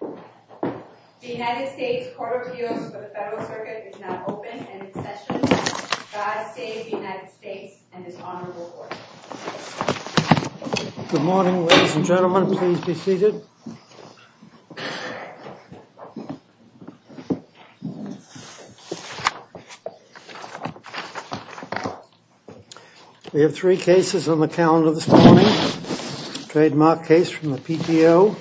The United States Court of Appeals for the Federal Circuit is now open and in session. God save the United States and His Honorable Court. Good morning, ladies and gentlemen. Please be seated. We have three cases on the calendar this morning. Trademark case from the PTO,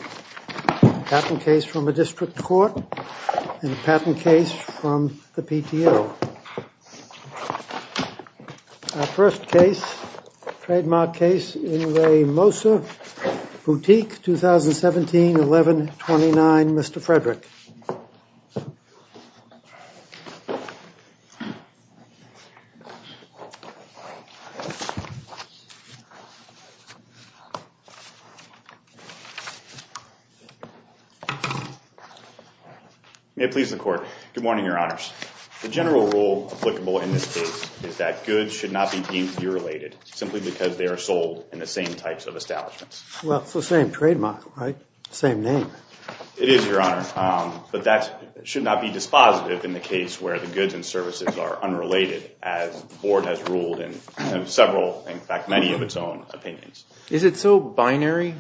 patent case from a district court, and a patent case from the PTO. Our first case, trademark case in Re Mosa Boutique, 2017-11-29, Mr. Frederick. May it please the Court. Good morning, Your Honors. The general rule applicable in this case is that goods should not be deemed derelated simply because they are sold in the same types of establishments. Well, it's the same trademark, right? Same name. It is, Your Honor, but that should not be dispositive in the case where the goods and services are unrelated, as the Board has ruled in several, in fact, many of its own opinions. Is it so binary?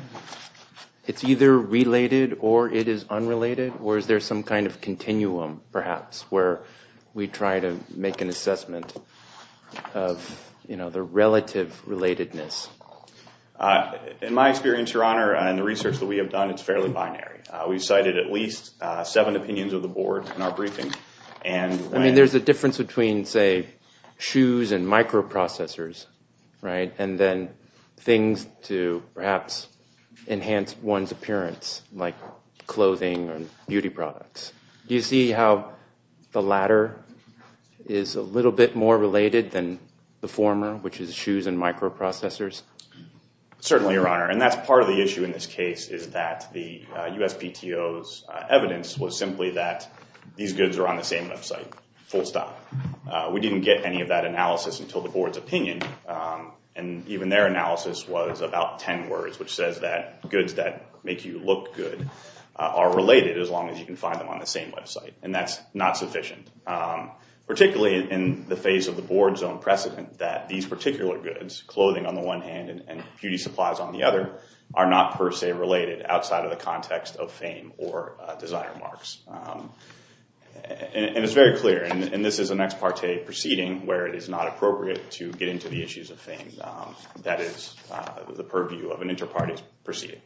It's either related or it is unrelated? Or is there some kind of continuum, perhaps, where we try to make an assessment of, you know, the relative relatedness? In my experience, Your Honor, and the research that we have done, it's fairly binary. We've cited at least seven opinions of the Board in our briefing. I mean, there's a difference between, say, shoes and microprocessors, right? And then things to perhaps enhance one's appearance, like clothing and beauty products. Do you see how the latter is a little bit more related than the former, which is shoes and microprocessors? Certainly, Your Honor, and that's part of the issue in this case, is that the USPTO's evidence was simply that these goods are on the same website, full stop. We didn't get any of that analysis until the Board's opinion, and even their analysis was about ten words, which says that goods that make you look good are related as long as you can find them on the same website, and that's not sufficient. Particularly in the face of the Board's own precedent that these particular goods, clothing on the one hand and beauty supplies on the other, are not per se related outside of the context of fame or desire marks. And it's very clear, and this is an ex parte proceeding where it is not appropriate to get into the issues of fame. That is the purview of an inter-party proceeding.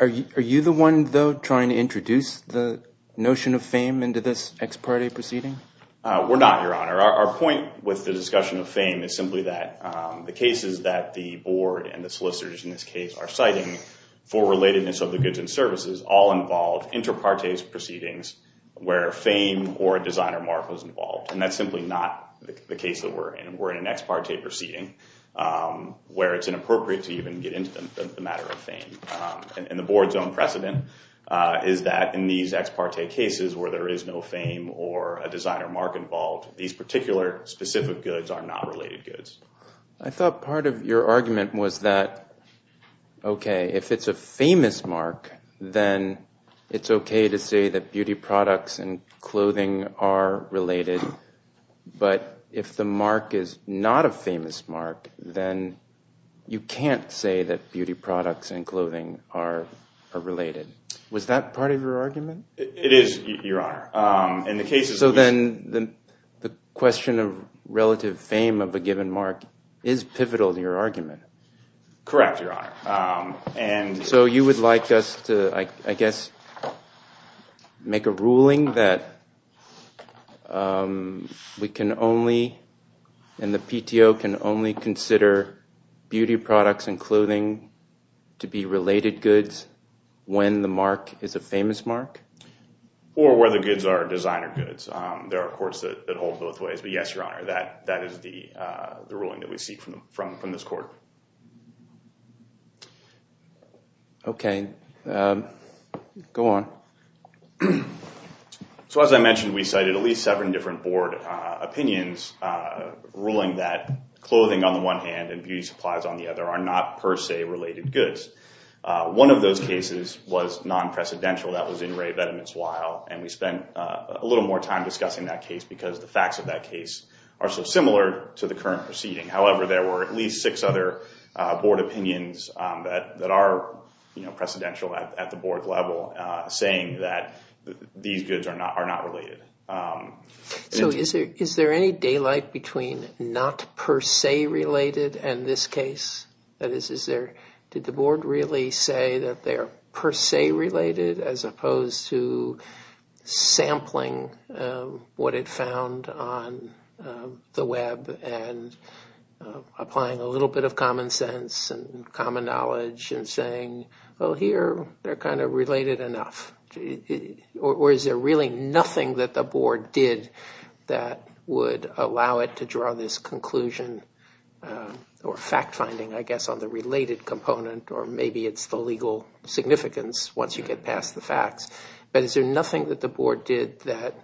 Are you the one, though, trying to introduce the notion of fame into this ex parte proceeding? We're not, Your Honor. Our point with the discussion of fame is simply that the cases that the Board and the solicitors in this case are citing for relatedness of the goods and services all involve inter-partes proceedings where fame or a desire mark was involved. And that's simply not the case that we're in. We're in an ex parte proceeding where it's inappropriate to even get into the matter of fame. And the Board's own precedent is that in these ex parte cases where there is no fame or a desire mark involved, these particular specific goods are not related goods. I thought part of your argument was that, okay, if it's a famous mark, then it's okay to say that beauty products and clothing are related. But if the mark is not a famous mark, then you can't say that beauty products and clothing are related. Was that part of your argument? It is, Your Honor. So then the question of relative fame of a given mark is pivotal to your argument. Correct, Your Honor. So you would like us to, I guess, make a ruling that we can only and the PTO can only consider beauty products and clothing to be related goods when the mark is a famous mark? Or whether goods are designer goods. There are courts that hold both ways. But yes, Your Honor, that is the ruling that we seek from this Court. Okay. Go on. So as I mentioned, we cited at least seven different Board opinions ruling that clothing on the one hand and beauty supplies on the other are not per se related goods. One of those cases was non-precedential. And we spent a little more time discussing that case because the facts of that case are so similar to the current proceeding. However, there were at least six other Board opinions that are precedential at the Board level saying that these goods are not related. So is there any daylight between not per se related and this case? That is, did the Board really say that they are per se related as opposed to sampling what it found on the web and applying a little bit of common sense and common knowledge and saying, Well, here they're kind of related enough. Or is there really nothing that the Board did that would allow it to draw this conclusion or fact-finding, I guess, on the related component? Or maybe it's the legal significance once you get past the facts. But is there nothing that the Board did that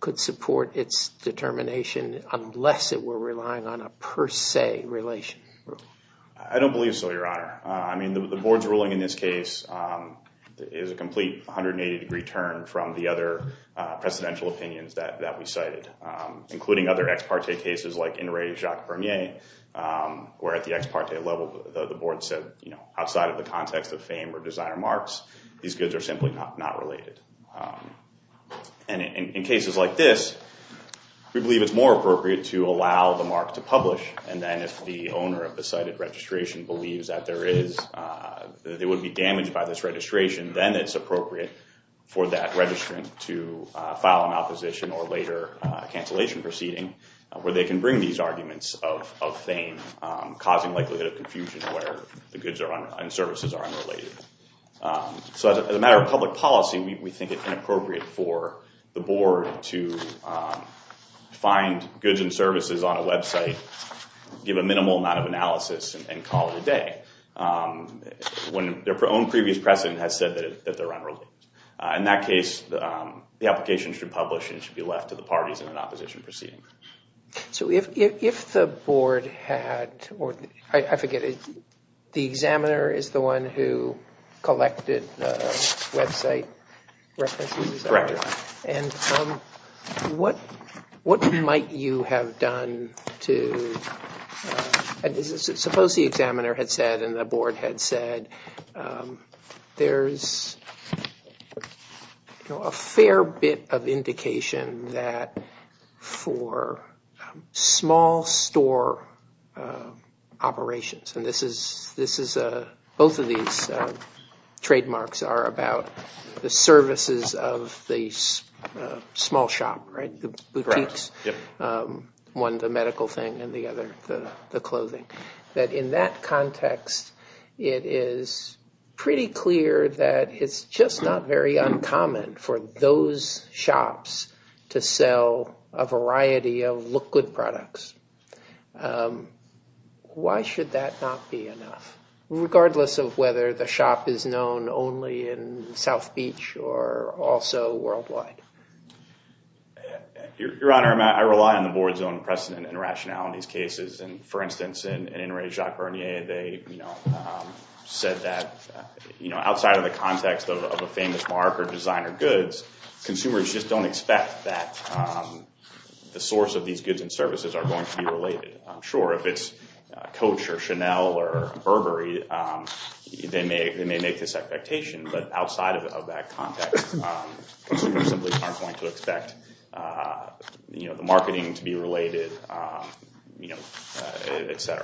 could support its determination unless it were relying on a per se relation? I don't believe so, Your Honor. I mean, the Board's ruling in this case is a complete 180-degree turn from the other precedential opinions that we cited, including other ex parte cases like Inouye Jacques-Bernier, where at the ex parte level the Board said, Outside of the context of fame or designer marks, these goods are simply not related. And in cases like this, we believe it's more appropriate to allow the mark to publish, and then if the owner of the cited registration believes that it would be damaged by this registration, then it's appropriate for that registrant to file an opposition or later cancellation proceeding where they can bring these arguments of fame, causing likelihood of confusion where the goods and services are unrelated. So as a matter of public policy, we think it's inappropriate for the Board to find goods and services on a website, give a minimal amount of analysis, and call it a day when their own previous precedent has said that they're unrelated. In that case, the application should publish and should be left to the parties in an opposition proceeding. So if the Board had, or I forget, the examiner is the one who collected the website references, and what might you have done to, suppose the examiner had said and the Board had said, there's a fair bit of indication that for small store operations, and both of these trademarks are about the services of the small shop, the boutiques, one the medical thing and the other the clothing, that in that context it is pretty clear that it's just not very uncommon for those shops to sell a variety of liquid products. Why should that not be enough, regardless of whether the shop is known only in South Beach or also worldwide? Your Honor, I rely on the Board's own precedent and rationality in these cases. For instance, in Inouye Jacques-Bernier, they said that outside of the context of a famous mark or designer goods, consumers just don't expect that the source of these goods and services are going to be related. Sure, if it's Coach or Chanel or Burberry, they may make this expectation, but outside of that context, consumers simply aren't going to expect the marketing to be related, etc.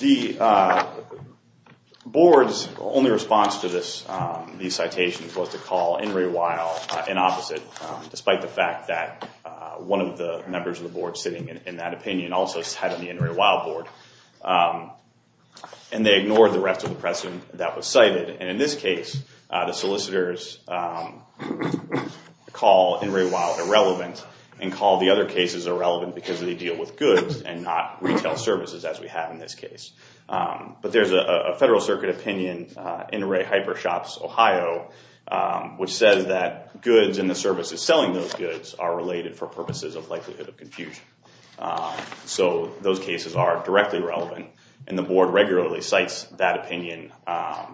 The Board's only response to these citations was to call Inouye wild an opposite, despite the fact that one of the members of the Board sitting in that opinion also cited the Inouye wild board. They ignored the rest of the precedent that was cited. In this case, the solicitors call Inouye wild irrelevant and call the other cases irrelevant because they deal with goods and not retail services, as we have in this case. But there's a Federal Circuit opinion, Inouye Hyper Shops, Ohio, which says that goods and the services selling those goods are related for purposes of likelihood of confusion. So those cases are directly relevant, and the Board regularly cites that opinion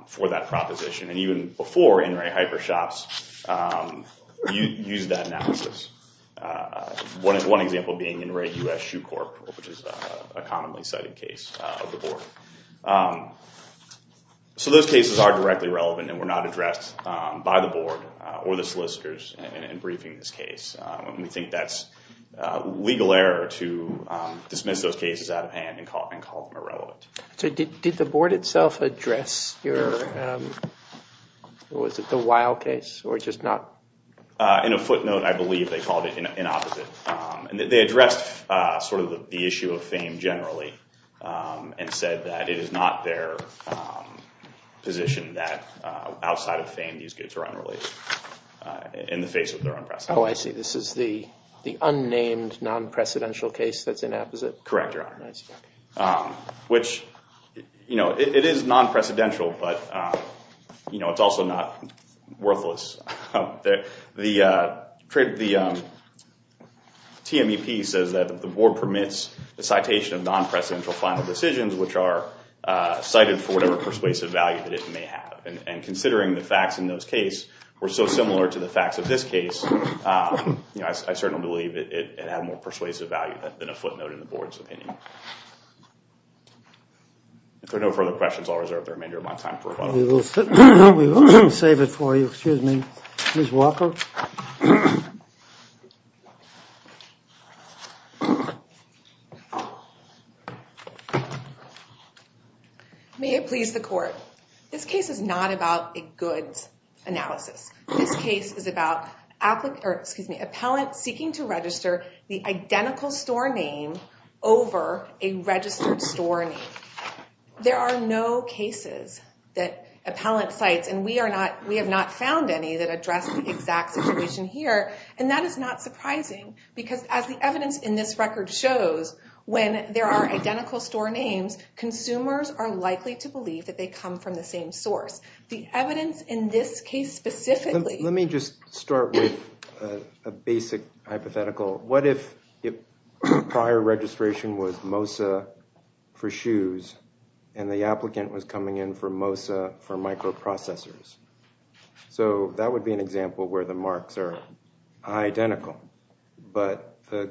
for that proposition, and even before Inouye Hyper Shops used that analysis. One example being Inouye U.S. Shoe Corp., which is a commonly cited case of the Board. So those cases are directly relevant and were not addressed by the Board or the solicitors in briefing this case. We think that's legal error to dismiss those cases out of hand and call them irrelevant. Did the Board itself address the wild case or just not? In a footnote, I believe they called it an opposite. They addressed sort of the issue of fame generally and said that it is not their position that outside of fame, these goods are unrelated in the face of their own precedent. Oh, I see. This is the unnamed non-precedential case that's an opposite? Correct, Your Honor. I see. Which, you know, it is non-precedential, but it's also not worthless. The TMEP says that the Board permits the citation of non-precedential final decisions, which are cited for whatever persuasive value that it may have. And considering the facts in those cases were so similar to the facts of this case, I certainly believe it had more persuasive value than a footnote in the Board's opinion. If there are no further questions, I'll reserve the remainder of my time for rebuttal. We will save it for you. Excuse me. Ms. Walker? May it please the Court. This case is not about a goods analysis. This case is about appellant seeking to register the identical store name over a registered store name. There are no cases that appellant cites, and we have not found any that address the exact situation here. And that is not surprising, because as the evidence in this record shows, when there are identical store names, consumers are likely to believe that they come from the same source. The evidence in this case specifically— Let me start with a basic hypothetical. What if prior registration was Mosa for shoes, and the applicant was coming in for Mosa for microprocessors? So that would be an example where the marks are identical, but the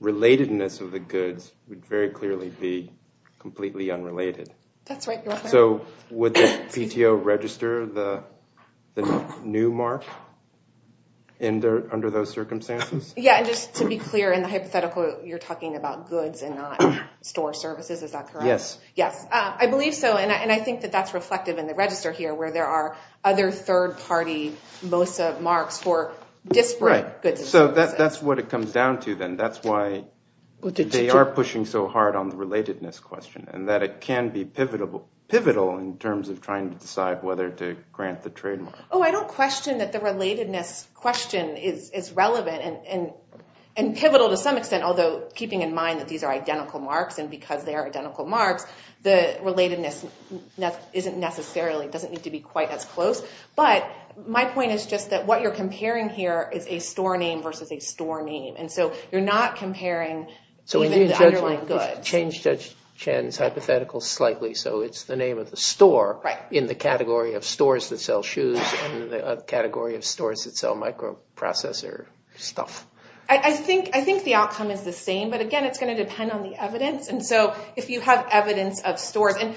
relatedness of the goods would very clearly be completely unrelated. That's right, Your Honor. So would the PTO register the new mark under those circumstances? Yeah, and just to be clear in the hypothetical, you're talking about goods and not store services, is that correct? Yes. Yes, I believe so, and I think that that's reflective in the register here, where there are other third-party Mosa marks for disparate goods and services. Right, so that's what it comes down to then. That's why they are pushing so hard on the relatedness question, and that it can be pivotal in terms of trying to decide whether to grant the trademark. Oh, I don't question that the relatedness question is relevant and pivotal to some extent, although keeping in mind that these are identical marks, and because they are identical marks, the relatedness isn't necessarily—doesn't need to be quite as close. But my point is just that what you're comparing here is a store name versus a store name, and so you're not comparing even the underlying goods. So in your judgment, you should change Judge Chen's hypothetical slightly, so it's the name of the store in the category of stores that sell shoes and in the category of stores that sell microprocessor stuff. I think the outcome is the same, but again, it's going to depend on the evidence. And so if you have evidence of stores—and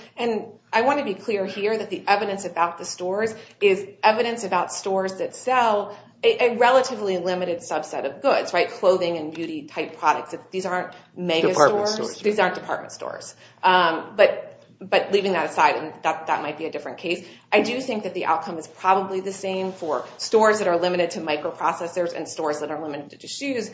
I want to be clear here that the evidence about the stores is evidence about stores that sell a relatively limited subset of goods, right? Clothing and beauty type products. These aren't megastores. Department stores. These aren't department stores. But leaving that aside, that might be a different case. I do think that the outcome is probably the same for stores that are limited to microprocessors and stores that are limited to shoes,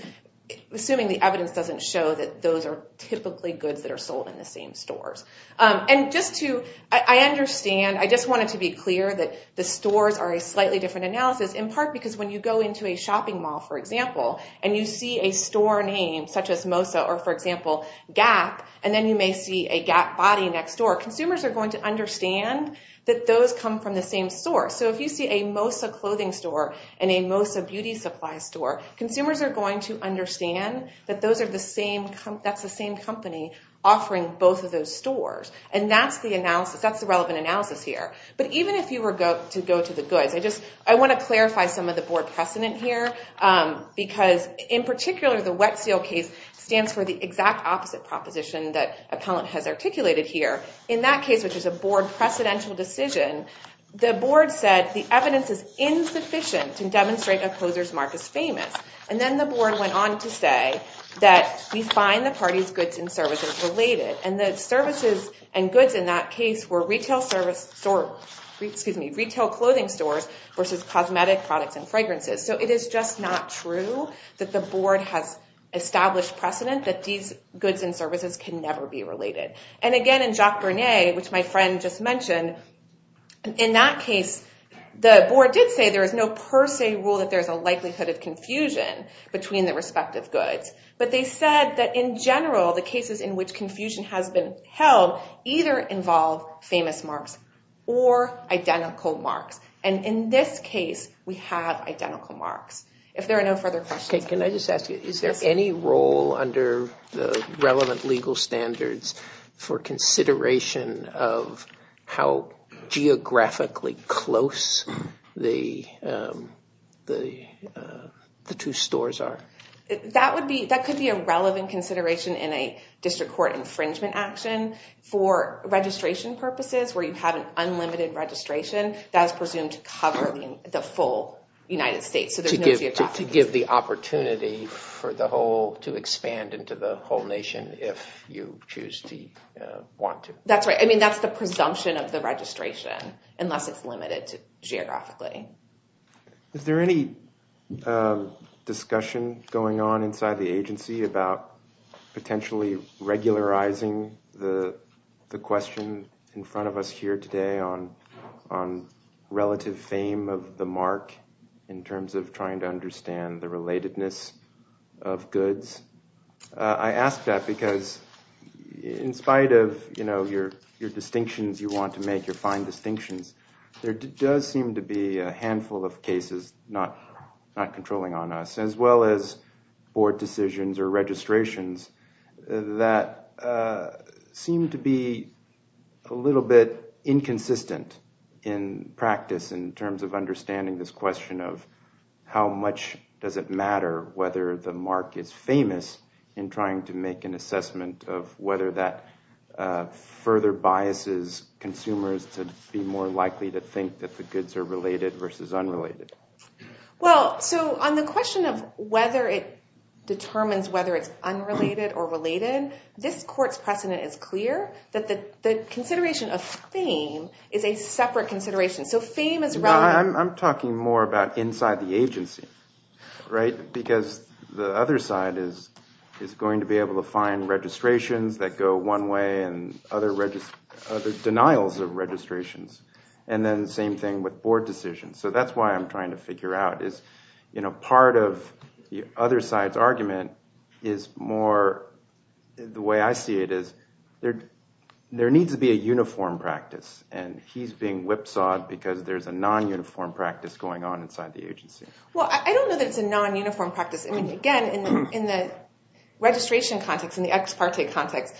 assuming the evidence doesn't show that those are typically goods that are sold in the same stores. I understand. I just wanted to be clear that the stores are a slightly different analysis, in part because when you go into a shopping mall, for example, and you see a store name such as Mosa or, for example, Gap, and then you may see a Gap body next door, consumers are going to understand that those come from the same store. So if you see a Mosa clothing store and a Mosa beauty supply store, consumers are going to understand that that's the same company offering both of those stores. And that's the analysis. That's the relevant analysis here. But even if you were to go to the goods, I want to clarify some of the board precedent here because, in particular, the Wet Seal case stands for the exact opposite proposition that Appellant has articulated here. In that case, which is a board precedential decision, the board said the evidence is insufficient to demonstrate a closer's mark is famous. And then the board went on to say that we find the parties' goods and services related. And the services and goods in that case were retail clothing stores versus cosmetic products and fragrances. So it is just not true that the board has established precedent that these goods and services can never be related. And, again, in Jacques Bernet, which my friend just mentioned, in that case, the board did say there is no per se rule that there is a likelihood of confusion between the respective goods. But they said that, in general, the cases in which confusion has been held either involve famous marks or identical marks. And in this case, we have identical marks. If there are no further questions. Can I just ask you, is there any role under the relevant legal standards for consideration of how geographically close the two stores are? That could be a relevant consideration in a district court infringement action. For registration purposes, where you have an unlimited registration, that is presumed to cover the full United States. To give the opportunity to expand into the whole nation if you choose to want to. That's right. I mean, that's the presumption of the registration, unless it's limited geographically. Is there any discussion going on inside the agency about potentially regularizing the question in front of us here today on relative fame of the mark in terms of trying to understand the relatedness of goods? I ask that because in spite of your distinctions you want to make, your fine distinctions, there does seem to be a handful of cases not controlling on us, as well as board decisions or registrations that seem to be a little bit inconsistent in practice in terms of understanding this question of how much does it matter whether the mark is famous in trying to make an assessment of whether that further biases consumers to be more likely to think that the goods are related versus unrelated. Well, so on the question of whether it determines whether it's unrelated or related, is a separate consideration. So fame is relevant. I'm talking more about inside the agency. Because the other side is going to be able to find registrations that go one way and other denials of registrations. And then the same thing with board decisions. So that's why I'm trying to figure out. Part of the other side's argument is more the way I see it is there needs to be a uniform practice. And he's being whipsawed because there's a non-uniform practice going on inside the agency. Well, I don't know that it's a non-uniform practice. Again, in the registration context, in the ex parte context,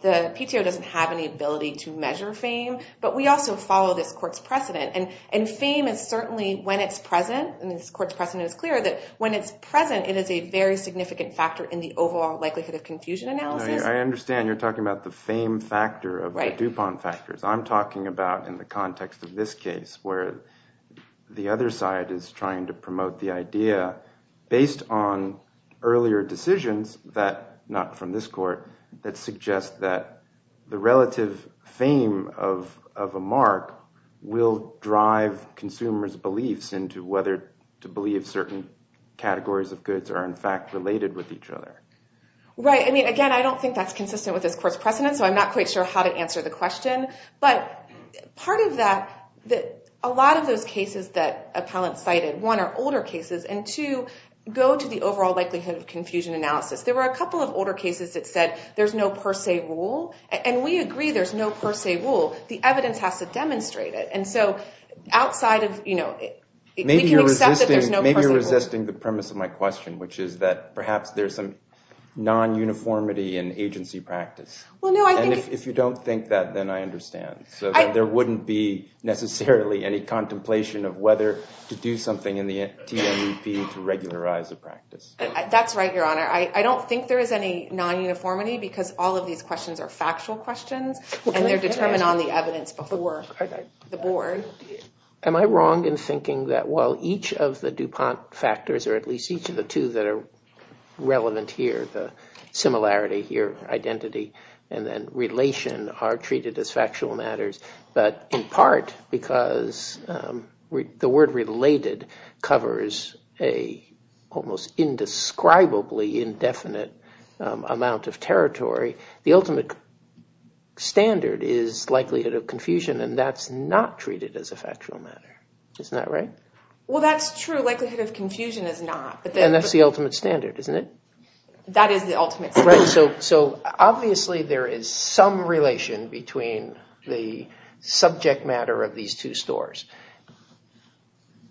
the PTO doesn't have any ability to measure fame. But we also follow this court's precedent. And fame is certainly, when it's present, and this court's precedent is clear, that when it's present it is a very significant factor in the overall likelihood of confusion analysis. I understand you're talking about the fame factor of the DuPont factors. I'm talking about, in the context of this case, where the other side is trying to promote the idea based on earlier decisions that, not from this court, that suggest that the relative fame of a mark will drive consumers' beliefs into whether to believe certain categories of goods are in fact related with each other. Right. I mean, again, I don't think that's consistent with this court's precedent, so I'm not quite sure how to answer the question. But part of that, a lot of those cases that appellants cited, one, are older cases, and two, go to the overall likelihood of confusion analysis. There were a couple of older cases that said there's no per se rule. And we agree there's no per se rule. The evidence has to demonstrate it. And so outside of, you know, we can accept that there's no per se rule. Maybe you're resisting the premise of my question, which is that perhaps there's some non-uniformity in agency practice. And if you don't think that, then I understand. There wouldn't be necessarily any contemplation of whether to do something in the TNEP to regularize the practice. That's right, Your Honor. I don't think there is any non-uniformity because all of these questions are factual questions, and they're determined on the evidence before the board. Am I wrong in thinking that while each of the DuPont factors, or at least each of the two that are relevant here, the similarity here, identity, and then relation, are treated as factual matters, but in part because the word related covers an almost indescribably indefinite amount of territory, the ultimate standard is likelihood of confusion, and that's not treated as a factual matter. Isn't that right? Well, that's true. Likelihood of confusion is not. And that's the ultimate standard, isn't it? That is the ultimate standard. So obviously there is some relation between the subject matter of these two stores.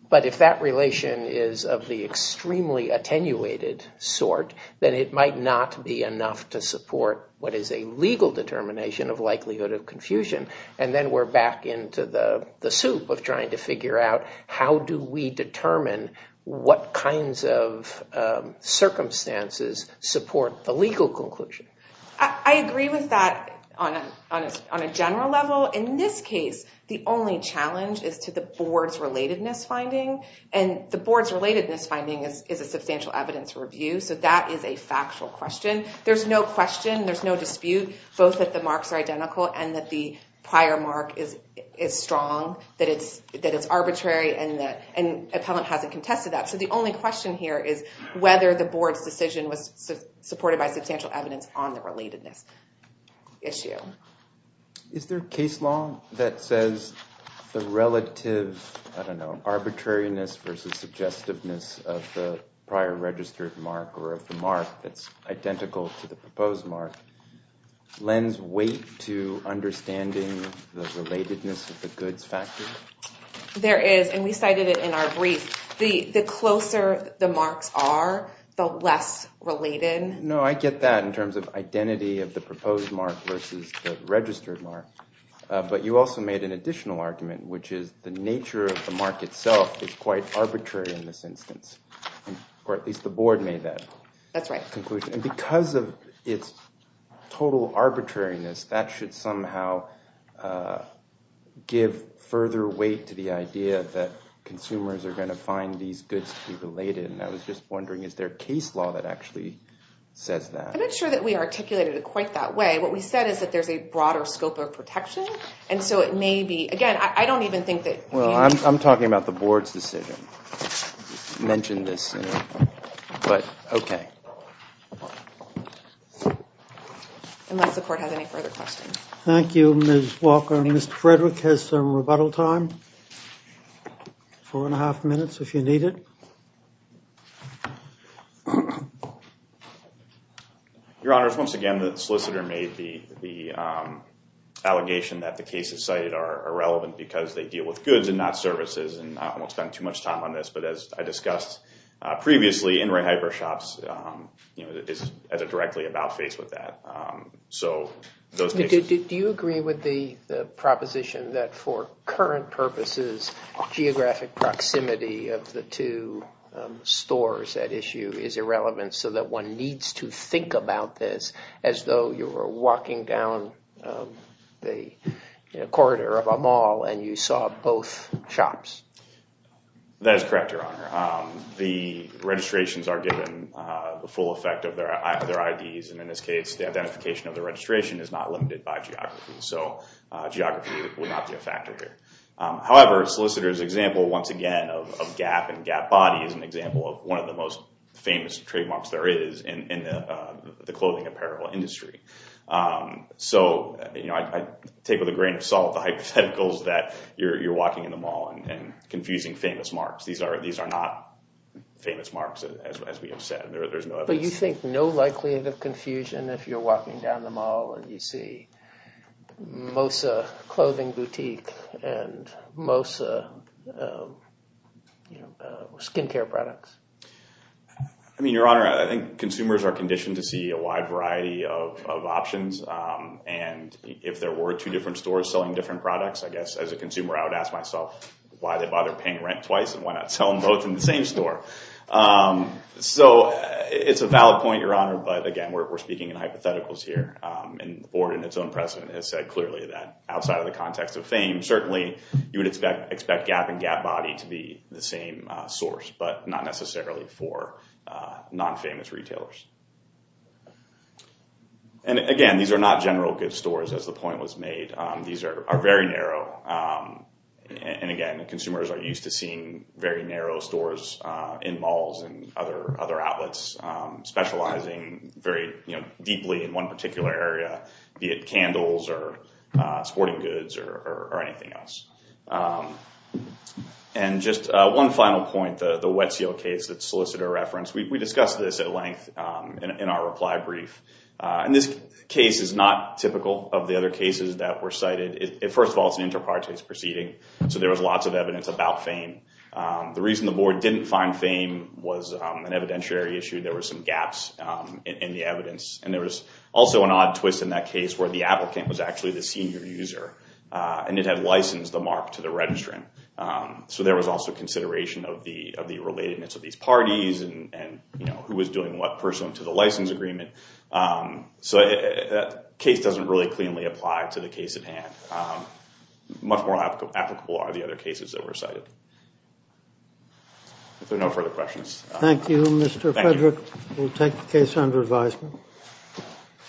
But if that relation is of the extremely attenuated sort, then it might not be enough to support what is a legal determination of likelihood of confusion. And then we're back into the soup of trying to figure out how do we determine what kinds of circumstances support the legal conclusion. I agree with that on a general level. In this case, the only challenge is to the board's relatedness finding, and the board's relatedness finding is a substantial evidence review, so that is a factual question. There's no question, there's no dispute, both that the marks are identical and that the prior mark is strong, that it's arbitrary, and the appellant hasn't contested that. So the only question here is whether the board's decision was supported by substantial evidence on the relatedness issue. Is there case law that says the relative, I don't know, arbitrariness versus suggestiveness of the prior registered mark or of the mark that's identical to the proposed mark lends weight to understanding the relatedness of the goods factor? There is, and we cited it in our brief. The closer the marks are, the less related. No, I get that in terms of identity of the proposed mark versus the registered mark, but you also made an additional argument, which is the nature of the mark itself is quite arbitrary in this instance, or at least the board made that conclusion. Because of its total arbitrariness, that should somehow give further weight to the idea that consumers are going to find these goods to be related, and I was just wondering, is there case law that actually says that? I'm not sure that we articulated it quite that way. What we said is that there's a broader scope of protection, and so it may be, again, I don't even think that we need to. Well, I'm talking about the board's decision. I mentioned this, but okay. Unless the court has any further questions. Thank you, Ms. Walker. Mr. Frederick has some rebuttal time, four and a half minutes if you need it. Your Honors, once again, the solicitor made the allegation that the cases cited are irrelevant because they deal with goods and not services and I won't spend too much time on this, but as I discussed previously, in-ring hyper shops is directly about-faced with that. Do you agree with the proposition that for current purposes, geographic proximity of the two stores at issue is irrelevant so that one needs to think about this as though you were walking down the corridor of a mall and you saw both shops? That is correct, Your Honor. The registrations are given the full effect of their IDs, and in this case, the identification of the registration is not limited by geography, so geography would not be a factor here. However, solicitor's example, once again, of gap and gap body is an example of one of the most famous trademarks there is in the clothing apparel industry. So I take with a grain of salt the hypotheticals that you're walking in the mall and confusing famous marks. These are not famous marks, as we have said. There's no evidence. But you think no likelihood of confusion if you're walking down the mall and you see Mosa clothing boutique and Mosa skin care products? I mean, Your Honor, I think consumers are conditioned to see a wide variety of options. And if there were two different stores selling different products, I guess as a consumer I would ask myself why they bother paying rent twice and why not sell them both in the same store? So it's a valid point, Your Honor, but again, we're speaking in hypotheticals here. And the board in its own precedent has said clearly that outside of the context of fame, certainly you would expect gap and gap body to be the same source, but not necessarily for non-famous retailers. And again, these are not general goods stores, as the point was made. These are very narrow. And again, consumers are used to seeing very narrow stores in malls and other outlets specializing very deeply in one particular area, be it candles or sporting goods or anything else. And just one final point, the Wet Seal case that Solicitor referenced. We discussed this at length in our reply brief. And this case is not typical of the other cases that were cited. First of all, it's an inter partes proceeding, so there was lots of evidence about fame. The reason the board didn't find fame was an evidentiary issue. There were some gaps in the evidence. And there was also an odd twist in that case where the applicant was actually the senior user, and it had licensed the mark to the registrant. So there was also consideration of the relatedness of these parties and who was doing what pursuant to the license agreement. So that case doesn't really cleanly apply to the case at hand. Much more applicable are the other cases that were cited. If there are no further questions. Thank you, Mr. Frederick. We'll take the case under advisement.